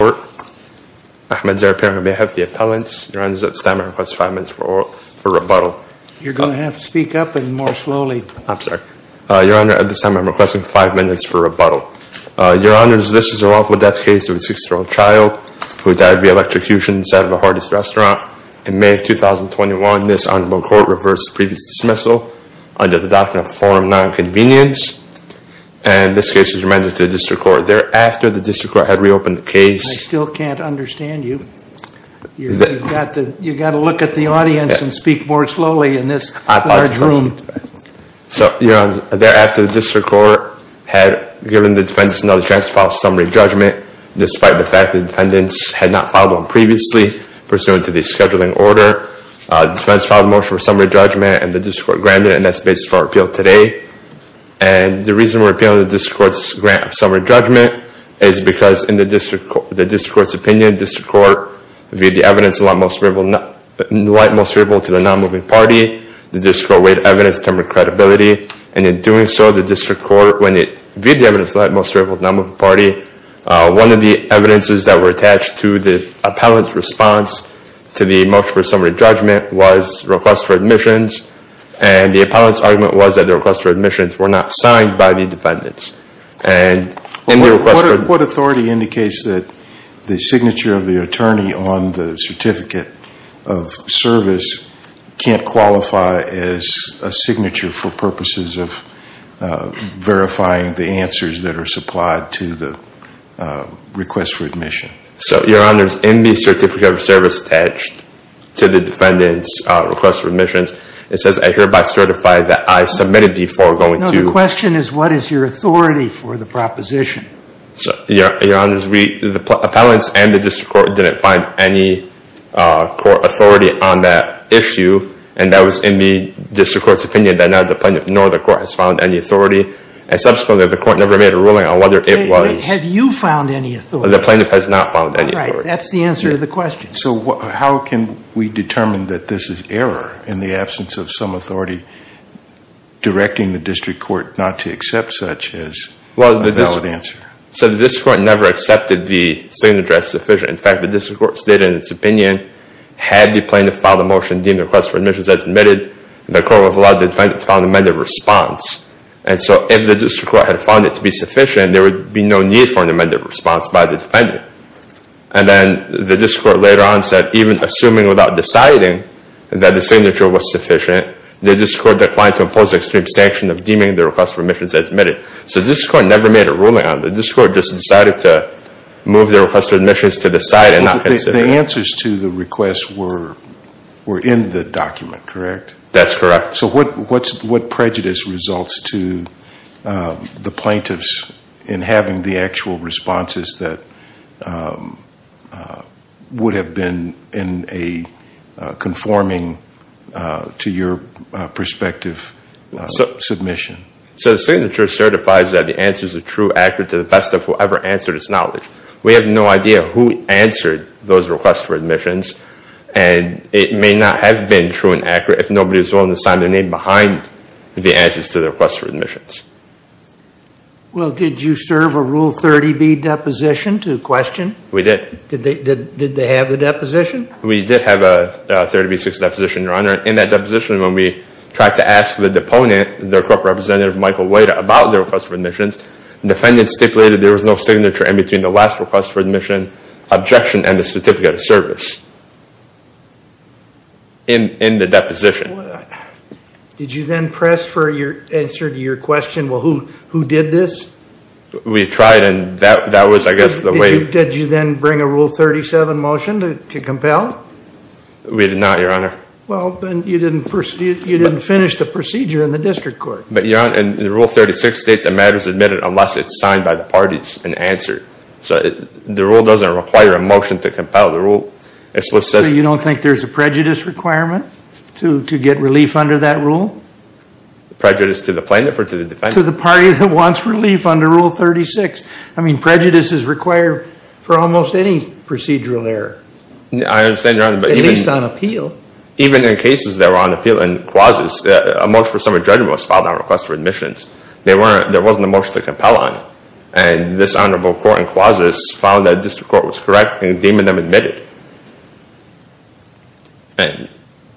Court. Mr. Chairman, I have the appellant. Your Honor, at this time, I request five minutes for rebuttal. You're going to have to speak up and more slowly. I'm sorry. Your Honor, at this time, I'm requesting five minutes for rebuttal. Your Honors, this is a wrongful death case of a six-year-old child who died via electrocution inside of a Hardee's restaurant in May of 2021. This honorable court reversed the previous dismissal under the doctrine of forum nonconvenience and this case is remanded to the district court. However, thereafter, the district court had reopened the case. I still can't understand you. You've got to look at the audience and speak more slowly in this large room. So Your Honor, thereafter, the district court had given the defendants another chance to file a summary judgment despite the fact the defendants had not filed one previously pursuant to the scheduling order. The defendants filed a motion for summary judgment and the district court granted it and that's the basis for our appeal today. And the reason we're appealing the district court's grant of summary judgment is because in the district court's opinion, the district court viewed the evidence in light most favorable to the non-moving party. The district court weighed evidence in terms of credibility and in doing so, the district court, when it viewed the evidence in light most favorable to the non-moving party, one of the evidences that were attached to the appellant's response to the motion for summary judgment was request for admissions and the appellant's argument was that the request for admissions were not signed by the defendants. What authority indicates that the signature of the attorney on the certificate of service can't qualify as a signature for purposes of verifying the answers that are supplied to the request for admission? So your honors, in the certificate of service attached to the defendant's request for admissions, it says, I hereby certify that I submitted before going to- No, the question is what is your authority for the proposition? So your honors, the appellants and the district court didn't find any court authority on that issue and that was in the district court's opinion that neither the plaintiff nor the court has found any authority. And subsequently, the court never made a ruling on whether it was- Wait, wait, have you found any authority? The plaintiff has not found any authority. Right, that's the answer to the question. So how can we determine that this is error in the absence of some authority directing the district court not to accept such as a valid answer? So the district court never accepted the signature as sufficient. In fact, the district court stated in its opinion, had the plaintiff filed a motion deeming the request for admissions as admitted, the court would have allowed the defendant to file an amended response. And so if the district court had found it to be sufficient, there would be no need for the plaintiff. And then the district court later on said even assuming without deciding that the signature was sufficient, the district court declined to impose extreme sanction of deeming the request for admissions as admitted. So the district court never made a ruling on it. The district court just decided to move the request for admissions to the side and not consider it. The answers to the request were in the document, correct? That's correct. So what prejudice results to the plaintiffs in having the actual responses that would have been in a conforming to your perspective submission? So the signature certifies that the answers are true, accurate to the best of whoever answered its knowledge. We have no idea who answered those requests for admissions and it may not have been true and accurate if nobody was willing to sign their name behind the answers to the request for admissions. Well, did you serve a Rule 30B deposition to the question? We did. Did they have a deposition? We did have a 30B6 deposition, Your Honor. In that deposition, when we tried to ask the deponent, the court representative, Michael White, about the request for admissions, the defendant stipulated there was no signature in between the last request for admission, objection, and the certificate of service. In the deposition. Did you then press for your answer to your question, well, who did this? We tried and that was, I guess, the way. Did you then bring a Rule 37 motion to compel? We did not, Your Honor. Well, then you didn't finish the procedure in the district court. But Your Honor, in Rule 36 states a matter is admitted unless it's signed by the parties and answered. So the rule doesn't require a motion to compel. So you don't think there's a prejudice requirement to get relief under that rule? Prejudice to the plaintiff or to the defendant? To the party that wants relief under Rule 36. I mean, prejudice is required for almost any procedural error. I understand, Your Honor, but even in cases that were on appeal in clauses, a motion for summary judgment was filed on request for admissions. There wasn't a motion to compel on it and this honorable court in clauses found that the district court was correct in deeming them admitted. And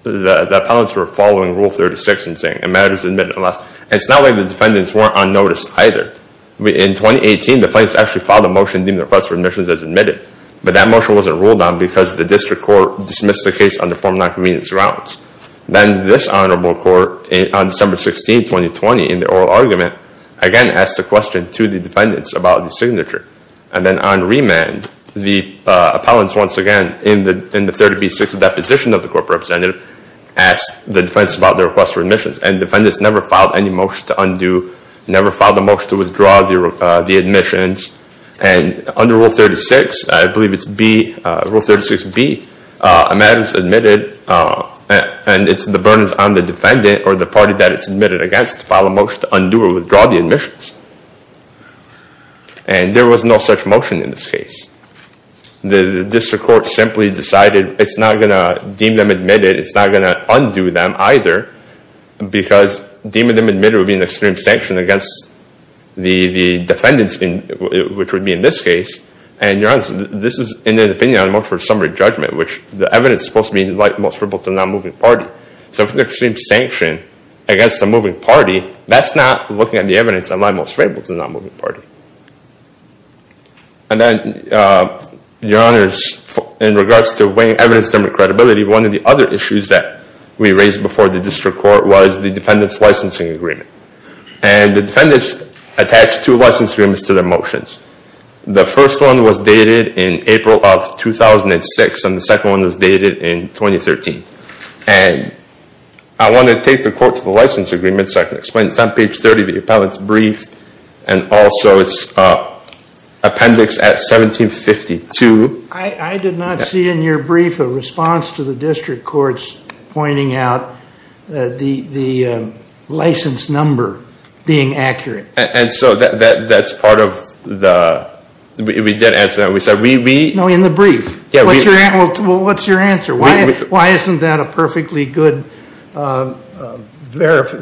the appellants were following Rule 36 and saying, a matter is admitted unless. And it's not like the defendants weren't on notice either. In 2018, the plaintiffs actually filed a motion deeming the request for admissions as admitted. But that motion wasn't ruled on because the district court dismissed the case under form non-convenience grounds. Then this honorable court on December 16, 2020, in their oral argument, again asked the question to the defendants about the signature. And then on remand, the appellants once again in the 30B6 deposition of the court representative asked the defendants about their request for admissions. And defendants never filed any motion to undo, never filed a motion to withdraw the admissions. And under Rule 36, I believe it's B, Rule 36B, a matter is admitted and it's the burdens on the defendant or the party that it's admitted against to file a motion to undo or withdraw the admissions. And there was no such motion in this case. The district court simply decided it's not going to deem them admitted, it's not going to undo them either, because deeming them admitted would be an extreme sanction against the defendants, which would be in this case. And your Honor, this is in the opinion of the motion for summary judgment, which the evidence is supposed to be admissible to the non-moving party. So if it's an extreme sanction against the moving party, that's not looking at the evidence and I'm most favorable to the non-moving party. And then, your Honors, in regards to weighing evidence and credibility, one of the other issues that we raised before the district court was the defendant's licensing agreement. And the defendants attached two license agreements to their motions. The first one was dated in April of 2006 and the second one was dated in 2013. And I want to take the court to the license agreement so I can explain it. And also, it's appendix at 1752. I did not see in your brief a response to the district court's pointing out the license number being accurate. And so that's part of the, we did answer that, we said we. No, in the brief, what's your answer? Why isn't that a perfectly good,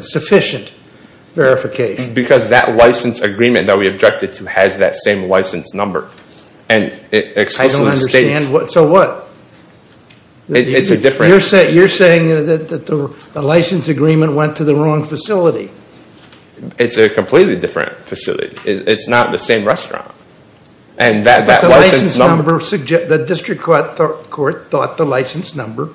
sufficient verification? Because that license agreement that we objected to has that same license number. And it explicitly states- I don't understand. So what? It's a different- You're saying that the license agreement went to the wrong facility. It's a completely different facility. It's not the same restaurant. And that license number- The district court thought the license number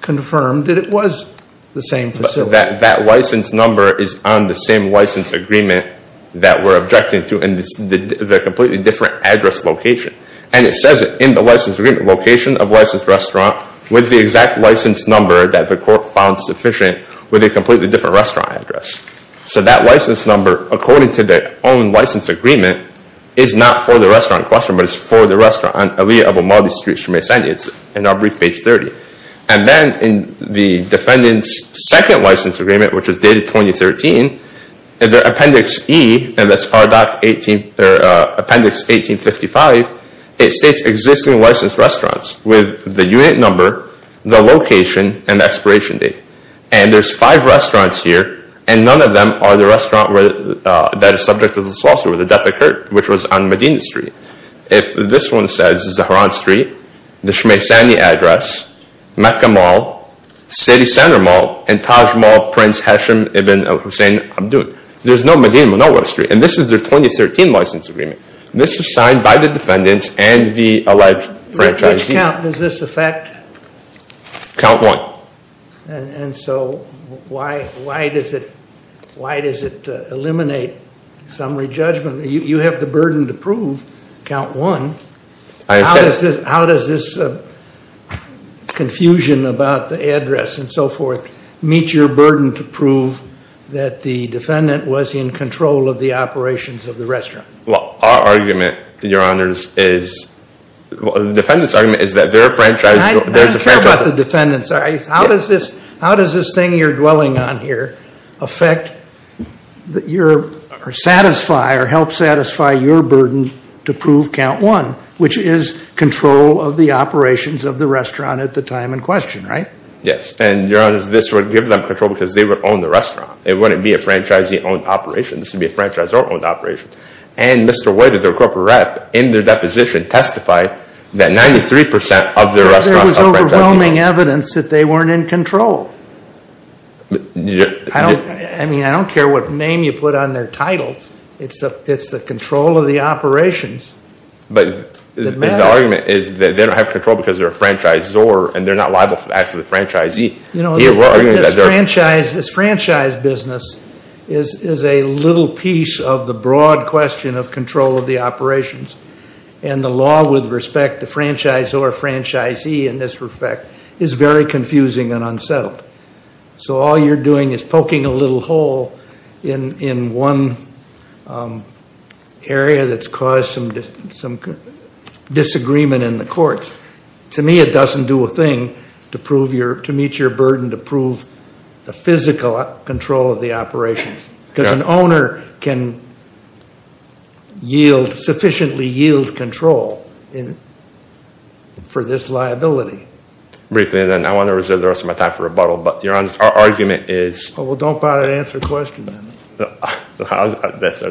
confirmed that it was the same facility. That that license number is on the same license agreement that we're objecting to in the completely different address location. And it says it in the license agreement location of licensed restaurant with the exact license number that the court found sufficient with a completely different restaurant address. So that license number, according to their own license agreement, is not for the restaurant in question, but it's for the restaurant on Elia of O'Malley Street, Chemeh Sandy. It's in our brief, page 30. And then in the defendant's second license agreement, which is dated 2013, in their Appendix E, and that's Appendix 1855, it states existing licensed restaurants with the unit number, the location, and the expiration date. And there's five restaurants here, and none of them are the restaurant that is subject to this lawsuit with the death of Kurt, which was on Medina Street. If this one says Zahran Street, the Chemeh Sandy address, Mecca Mall, City Center Mall, and Taj Mall, Prince Hashem Ibn Hussein Abdul. There's no Medina, no West Street. And this is their 2013 license agreement. This is signed by the defendants and the alleged franchisee. Which count does this affect? Count one. And so why does it eliminate some re-judgment? You have the burden to prove count one. How does this confusion about the address and so forth meet your burden to prove that the defendant was in control of the operations of the restaurant? Well, our argument, your honors, is, the defendant's argument is that their franchise- I don't care about the defendant's. How does this thing you're dwelling on here help satisfy your burden to prove count one? Which is control of the operations of the restaurant at the time in question, right? Yes, and your honors, this would give them control because they would own the restaurant. It wouldn't be a franchisee-owned operation. This would be a franchisor-owned operation. And Mr. White, their corporate rep, in their deposition, testified that 93% of their restaurants- That was overwhelming evidence that they weren't in control. I mean, I don't care what name you put on their titles. It's the control of the operations that matter. But the argument is that they don't have control because they're a franchisor and they're not liable for the acts of the franchisee. You know, this franchise business is a little piece of the broad question of control of the operations. And the law with respect to franchisor, franchisee, in this respect, is very confusing and unsettled. So all you're doing is poking a little hole in one area that's caused some disagreement in the courts. To me, it doesn't do a thing to meet your burden to prove the physical control of the operations. Because an owner can sufficiently yield control for this liability. Briefly, and then I want to reserve the rest of my time for rebuttal, but your argument is- Well, don't bother to answer the question then. I was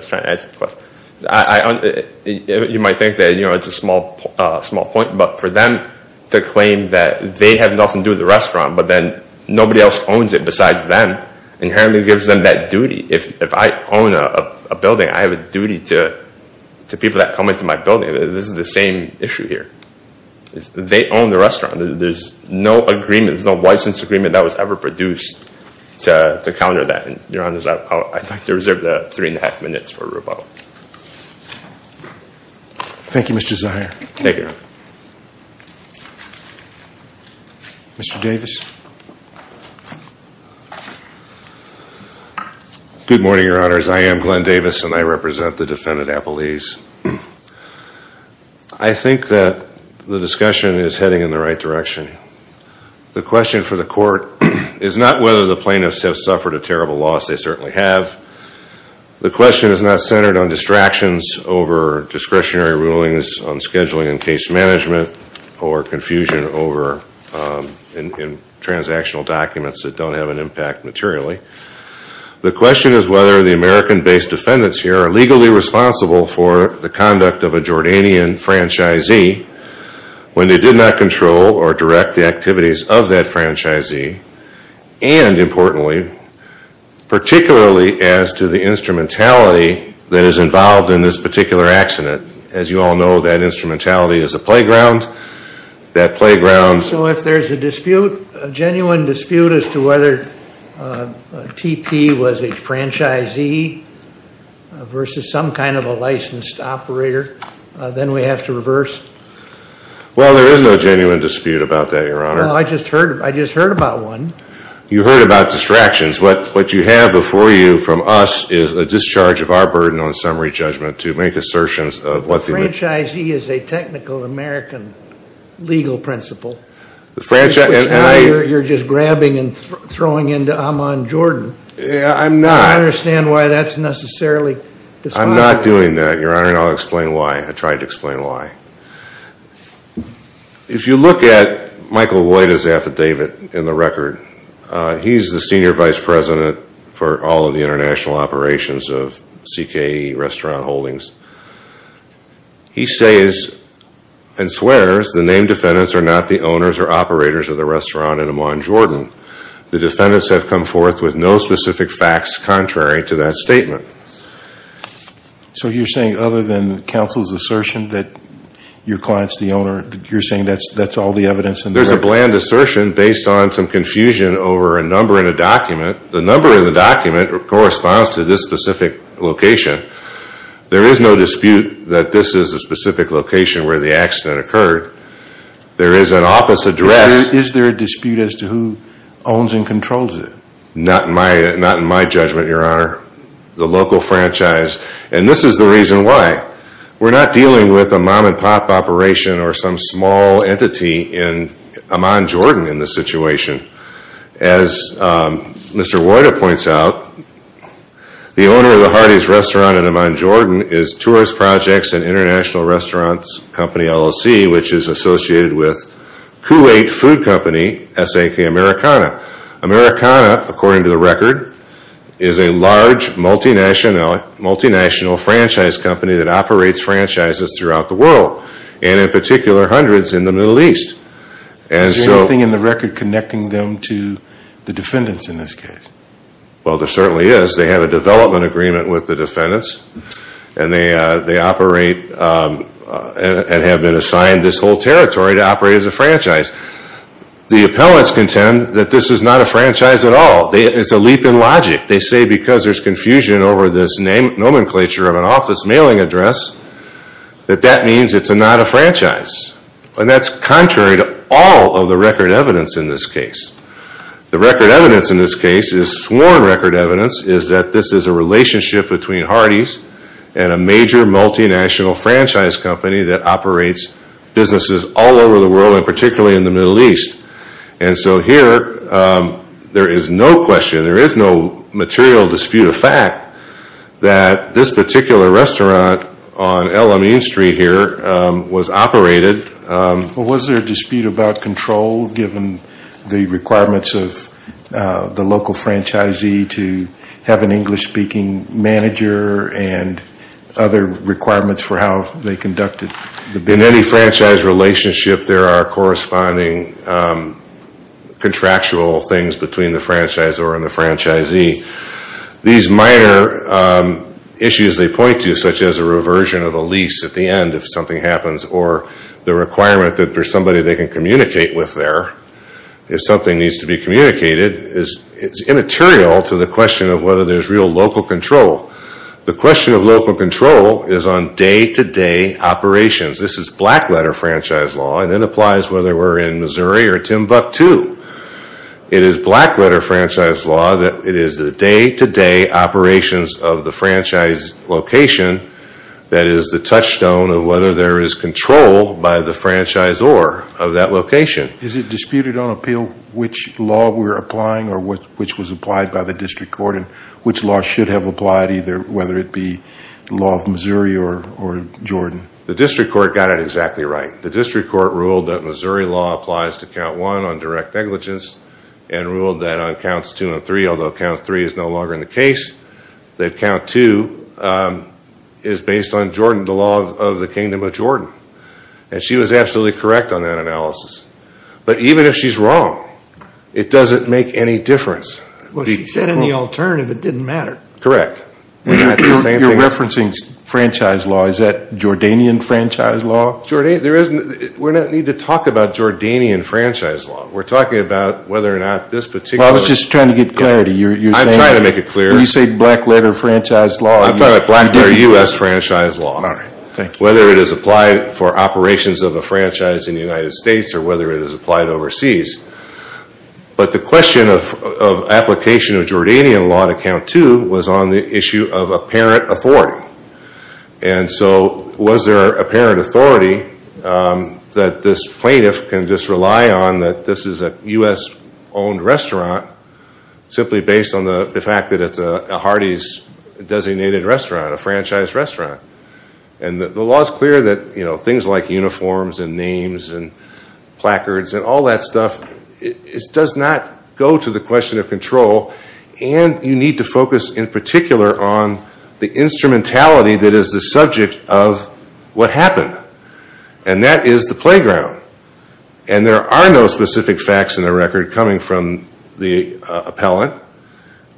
trying to answer the question. You might think that it's a small point, but for them to claim that they have nothing to do with the restaurant, but then nobody else owns it besides them, inherently gives them that duty. If I own a building, I have a duty to people that come into my building. This is the same issue here. They own the restaurant. There's no agreement, there's no license agreement that was ever produced to counter that. Your Honor, I'd like to reserve the three and a half minutes for rebuttal. Thank you, Mr. Zier. Thank you. Mr. Davis. Good morning, Your Honors. I am Glenn Davis, and I represent the defendant, Appalese. I think that the discussion is heading in the right direction. The question for the court is not whether the plaintiffs have suffered a terrible loss. They certainly have. The question is not centered on distractions over discretionary rulings on scheduling and case management, or confusion over transactional documents that don't have an impact materially. The question is whether the American-based defendants here are legally responsible for the conduct of a Jordanian franchisee when they did not control or direct the activities of that franchisee, and importantly, particularly as to the instrumentality that is involved in this particular accident. As you all know, that instrumentality is a playground. That playground- So if there's a dispute, a genuine dispute as to whether TP was a franchisee versus some kind of a licensed operator, then we have to reverse? Well, there is no genuine dispute about that, Your Honor. Well, I just heard about one. You heard about distractions. What you have before you from us is a discharge of our burden on summary judgment to make assertions of what the- Franchisee is a technical American legal principle. The franchisee- Which now you're just grabbing and throwing into Ahmaud Jordan. Yeah, I'm not. I don't understand why that's necessarily- I'm not doing that, Your Honor, and I'll explain why. I tried to explain why. If you look at Michael Lloyd's affidavit in the record, he's the senior vice president for all of the international operations of CKE restaurant holdings. He says and swears the named defendants are not the owners or operators of the restaurant in Ahmaud Jordan. The defendants have come forth with no specific facts contrary to that statement. So you're saying other than counsel's assertion that your client's the owner, you're saying that's all the evidence in the record? There's a bland assertion based on some confusion over a number in a document. The number in the document corresponds to this specific location. There is no dispute that this is a specific location where the accident occurred. There is an office address- Is there a dispute as to who owns and controls it? Not in my judgment, Your Honor. The local franchise, and this is the reason why. We're not dealing with a mom and pop operation or some small entity in Ahmaud Jordan in this situation. As Mr. Royder points out, the owner of the Hardee's restaurant in Ahmaud Jordan is Tourist Projects and International Restaurants Company LLC, which is associated with Kuwait Food Company, SAK Americana. Americana, according to the record, is a large multinational franchise company that operates franchises throughout the world, and in particular, hundreds in the Middle East. And so- Is there anything in the record connecting them to the defendants in this case? Well, there certainly is. They have a development agreement with the defendants. And they operate and have been assigned this whole territory to operate as a franchise. The appellants contend that this is not a franchise at all. It's a leap in logic. They say because there's confusion over this nomenclature of an office mailing address, that that means it's not a franchise. And that's contrary to all of the record evidence in this case. The record evidence in this case is sworn record evidence is that this is a relationship between Hardee's and a major multinational franchise company that operates businesses all over the world, and particularly in the Middle East. And so here, there is no question, there is no material dispute of fact that this particular restaurant on El Amin Street here was operated. Was there a dispute about control given the requirements of the local franchisee to have an English speaking manager and other requirements for how they conducted? In any franchise relationship, there are corresponding contractual things between the franchisor and the franchisee. These minor issues they point to, such as a reversion of the lease at the end if something happens, or the requirement that there's somebody they can communicate with there if something needs to be communicated, is immaterial to the question of whether there's real local control. The question of local control is on day-to-day operations. This is black letter franchise law, and it applies whether we're in Missouri or Timbuktu. It is black letter franchise law that it is the day-to-day operations of the franchise location that is the touchstone of whether there is control by the franchisor of that location. Is it disputed on appeal which law we're applying or which was applied by the district court, and which law should have applied either, whether it be the law of Missouri or Jordan? The district court got it exactly right. The district court ruled that Missouri law applies to count one on direct negligence, and ruled that on counts two and three, although count three is no longer in the case, that count two is based on Jordan, the law of the kingdom of Jordan. And she was absolutely correct on that analysis. But even if she's wrong, it doesn't make any difference. What she said in the alternative, it didn't matter. Correct. You're referencing franchise law. Is that Jordanian franchise law? Jordanian, there isn't, we don't need to talk about Jordanian franchise law. We're talking about whether or not this particular. I was just trying to get clarity. You're saying. I'm trying to make it clear. You say black letter franchise law. I'm talking about black letter U.S. franchise law. All right. Whether it is applied for operations of a franchise in the United States or whether it is applied overseas. But the question of application of Jordanian law to count two was on the issue of apparent authority. And so was there apparent authority that this plaintiff can just rely on that this is a U.S. owned restaurant simply based on the fact that it's a Hardee's designated restaurant, a franchise restaurant. And the law is clear that, you know, things like uniforms and names and placards and all that stuff, it does not go to the question of control. And you need to focus in particular on the instrumentality that is the subject of what happened. And that is the playground. And there are no specific facts in the record coming from the appellant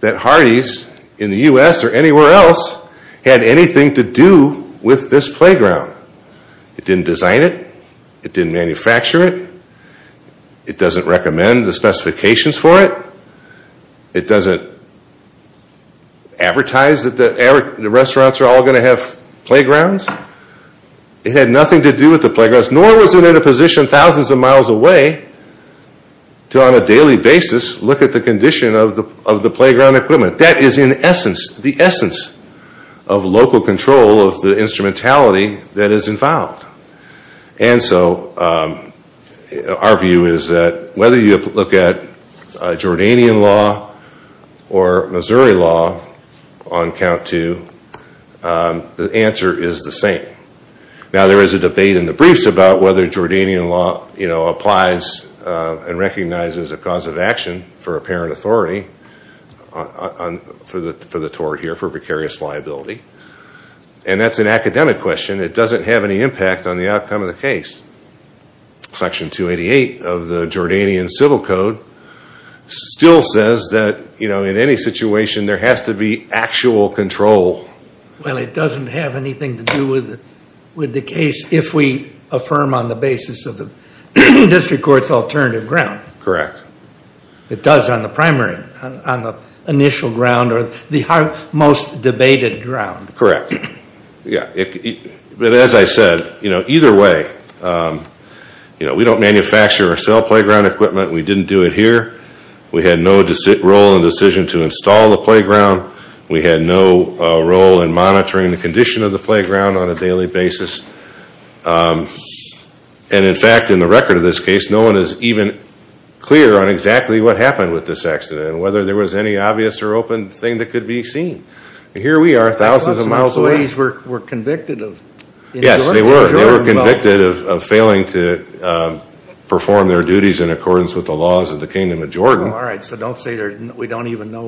that Hardee's in the U.S. or anywhere else had anything to do with this playground. It didn't design it. It didn't manufacture it. It doesn't recommend the specifications for it. It doesn't advertise that the restaurants are all going to have playgrounds. It had nothing to do with the playgrounds, nor was it in a position thousands of miles away to on a daily basis look at the condition of the playground equipment. That is in essence, the essence of local control of the instrumentality that is involved. And so our view is that whether you look at Jordanian law or Missouri law on count two, the answer is the same. Now there is a debate in the briefs about whether Jordanian law, you know, applies and recognizes a cause of action for apparent authority for the tort here, for precarious liability. And that's an academic question. It doesn't have any impact on the outcome of the case. Section 288 of the Jordanian Civil Code still says that, you know, in any situation there has to be actual control. Well, it doesn't have anything to do with the case if we affirm on the basis of the district court's alternative ground. Correct. It does on the primary, on the initial ground or the most debated ground. Correct. Yeah. But as I said, you know, either way, you know, we don't manufacture or sell playground equipment. We didn't do it here. We had no role in the decision to install the playground. We had no role in monitoring the condition of the playground on a daily basis. And in fact, in the record of this case, no one is even clear on exactly what happened with this accident and whether there was any obvious or open thing that could be seen. Here we are, thousands of miles away. The employees were convicted of insulting the Jordan vote. Yes, they were. They were convicted of failing to perform their duties in accordance with the laws of the Kingdom of Jordan. Oh, all right. So don't say we don't even know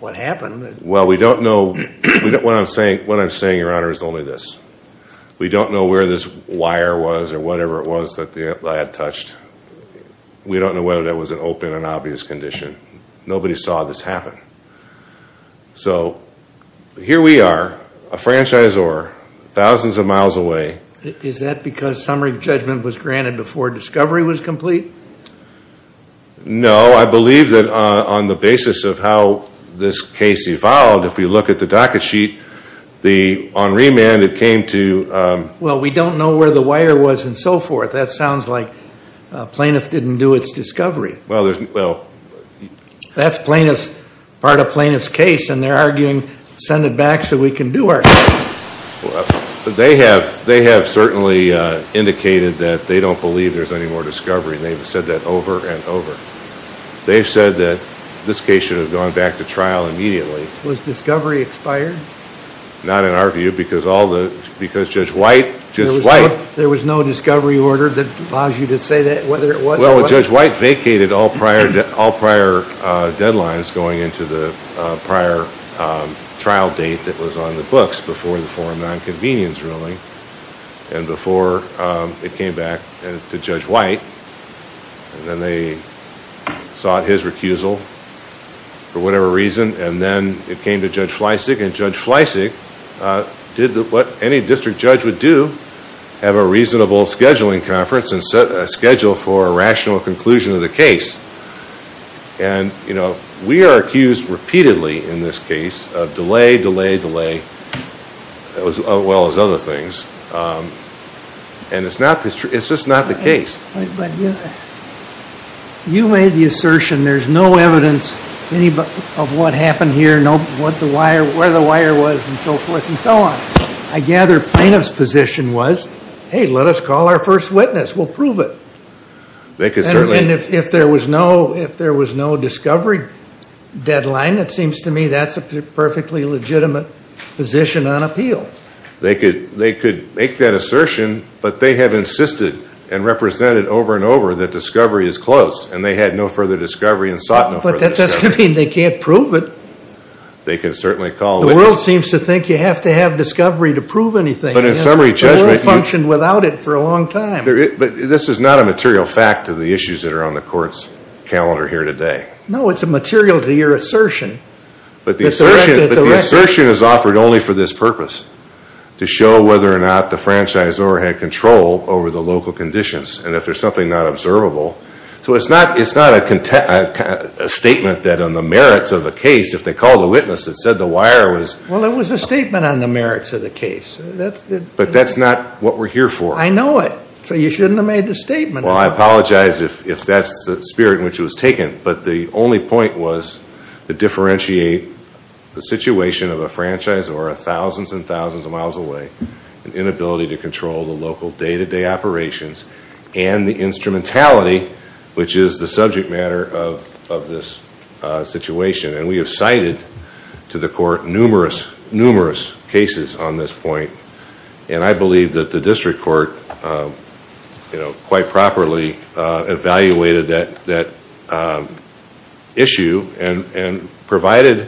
what happened. Well, we don't know. What I'm saying, Your Honor, is only this. We don't know where this wire was or whatever it was that I had touched. We don't know whether that was an open and obvious condition. Nobody saw this happen. So here we are, a franchisor, thousands of miles away. Is that because summary judgment was granted before discovery was complete? No, I believe that on the basis of how this case evolved, if we look at the docket sheet, on remand, it came to... Well, we don't know where the wire was and so forth. That sounds like plaintiff didn't do its discovery. Well, that's part of plaintiff's case and they're arguing, send it back so we can do our... They have certainly indicated that they don't believe there's any more discovery. They've said that over and over. They've said that this case should have gone back to trial immediately. Was discovery expired? Not in our view because Judge White... Well, Judge White vacated all prior deadlines going into the prior trial date that was on the books before the forum nonconvenience ruling and before it came back to Judge White and then they sought his recusal for whatever reason and then it came to Judge Fleisig and Judge Fleisig did what any district judge would do, have a reasonable scheduling conference and set a schedule for a rational conclusion of the case. And we are accused repeatedly in this case of delay, delay, delay, as well as other things. And it's just not the case. You made the assertion there's no evidence of what happened here, where the wire was and so forth and so on. I gather plaintiff's position was, hey, let us call our first witness, we'll prove it. They could certainly... And if there was no discovery deadline, it seems to me that's a perfectly legitimate position on appeal. They could make that assertion but they have insisted and represented over and over that discovery is closed and they had no further discovery and sought no further discovery. But that doesn't mean they can't prove it. They can certainly call a witness. The world seems to think you have to have discovery to prove anything. But in summary judgment... The world functioned without it for a long time. But this is not a material fact to the issues that are on the court's calendar here today. No, it's a material to your assertion. But the assertion is offered only for this purpose, to show whether or not the franchise or had control over the local conditions and if there's something not observable. So it's not a statement that on the merits of a case, if they call the witness that said the wire was... Well, it was a statement on the merits of the case. But that's not what we're here for. I know it. So you shouldn't have made the statement. Well, I apologize if that's the spirit in which it was taken. But the only point was to differentiate the situation of a franchise or a thousands and thousands of miles away, an inability to control the local day-to-day operations and the instrumentality which is the subject matter of this situation. And we have cited to the court numerous, numerous cases on this point. And I believe that the district court, you know, quite properly evaluated that issue and provided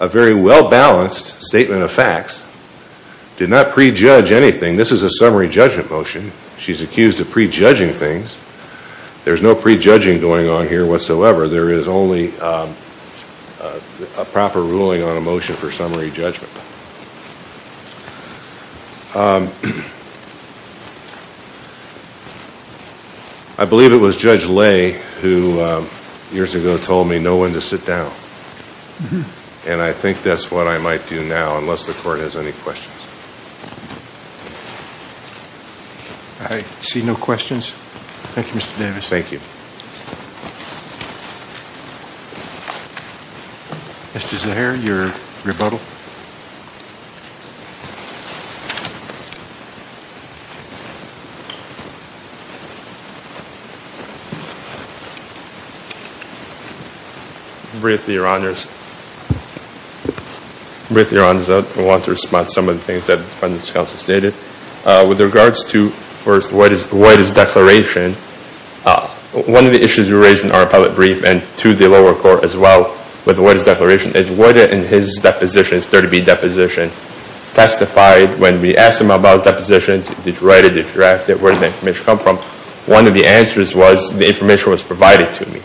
a very well-balanced statement of facts. Did not prejudge anything. This is a summary judgment motion. She's accused of prejudging things. There's no prejudging going on here whatsoever. There is only a proper ruling on a motion for summary judgment. I believe it was Judge Lay who years ago told me no one to sit down. And I think that's what I might do now, unless the court has any questions. I see no questions. Thank you, Mr. Davis. Thank you. Mr. Zaharie, your rebuttal. Briefly, Your Honors. Briefly, Your Honors, I want to respond to some of the things that the defendant's counsel stated. With regards to, first, White's declaration, one of the issues you raised in our public brief and to the lower court as well with White's declaration is White, in his depositions, 30B deposition, testified when we asked him about his depositions, did you write it, did you draft it, where did the information come from? One of the answers was the information was provided to me.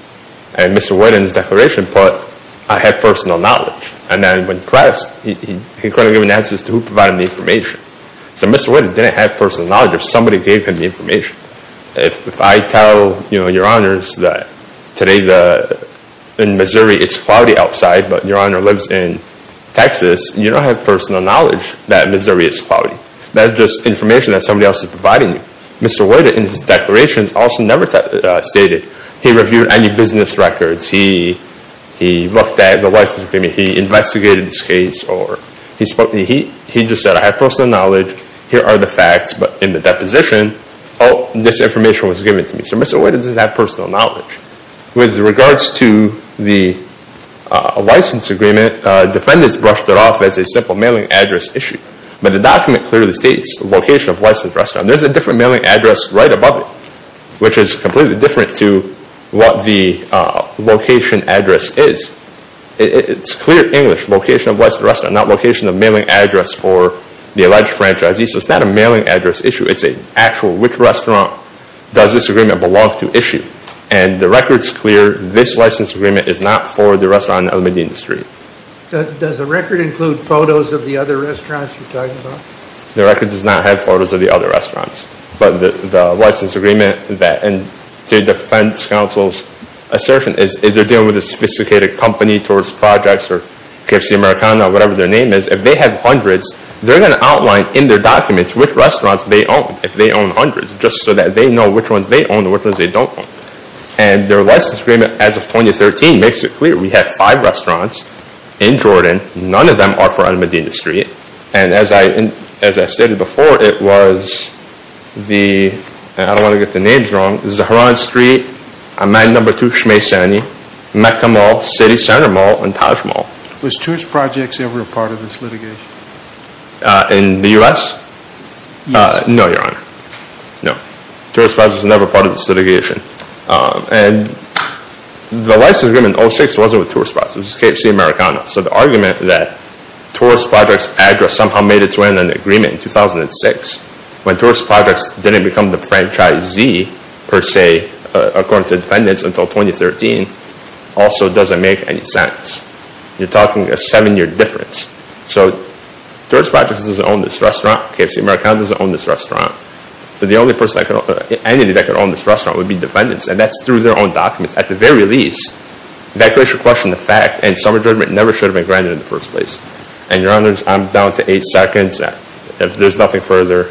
And Mr. White, in his declaration, put, I have personal knowledge. And then when pressed, he couldn't give an answer as to who provided the information. So Mr. White didn't have personal knowledge. If somebody gave him the information. If I tell Your Honors that today in Missouri it's cloudy outside but Your Honor lives in Texas, you don't have personal knowledge that Missouri is cloudy. That's just information that somebody else is providing you. Mr. White, in his declarations, also never stated he reviewed any business records. He looked at the license agreement. He investigated this case or he just said I have personal knowledge. Here are the facts. But in the deposition, this information was given to me. So Mr. White doesn't have personal knowledge. With regards to the license agreement, defendants brushed it off as a simple mailing address issue. But the document clearly states location of licensed restaurant. There's a different mailing address right above it, which is completely different to what the location address is. It's clear English, location of licensed restaurant, not location of mailing address for the alleged franchisee. So it's not a mailing address issue, it's an actual which restaurant does this agreement belong to issue. And the record's clear, this license agreement is not for the restaurant in the industry. Does the record include photos of the other restaurants you're talking about? The record does not have photos of the other restaurants. But the license agreement, and to the defense counsel's assertion, is they're dealing with a sophisticated company towards projects or KFC Americana or whatever their name is. If they have hundreds, they're going to outline in their documents which restaurants they own, if they own hundreds, just so that they know which ones they own and which ones they don't own. And their license agreement as of 2013 makes it clear. We have five restaurants in Jordan, none of them are for Alameda Street. And as I stated before, it was the, and I don't want to get the names wrong, Zaharan Street, Amman Number 2 Shmay Sani, Mecca Mall, City Center Mall, and Taj Mall. Was Tourist Projects ever a part of this litigation? In the US? No, your honor, no. Tourist Projects was never a part of this litigation. And the license agreement in 06 wasn't with Tourist Projects, it was KFC Americana. So the argument that Tourist Projects address somehow made its way in an agreement in 2006. When Tourist Projects didn't become the franchisee, per se, according to defendants until 2013, also doesn't make any sense. You're talking a seven year difference. So Tourist Projects doesn't own this restaurant, KFC Americana doesn't own this restaurant. So the only entity that could own this restaurant would be defendants, and that's through their own documents. At the very least, that creates a question of fact, and some judgment never should have been granted in the first place. And your honors, I'm down to eight seconds. If there's nothing further,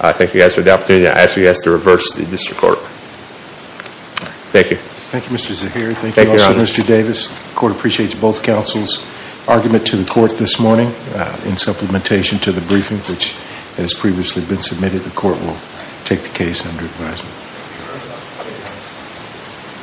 I thank you guys for the opportunity. I ask you guys to reverse the district court. Thank you. Thank you, Mr. Zaheer. Thank you also, Mr. Davis. Court appreciates both counsel's argument to the court this morning. In supplementation to the briefing, which has previously been submitted, the court will take the case under advisement.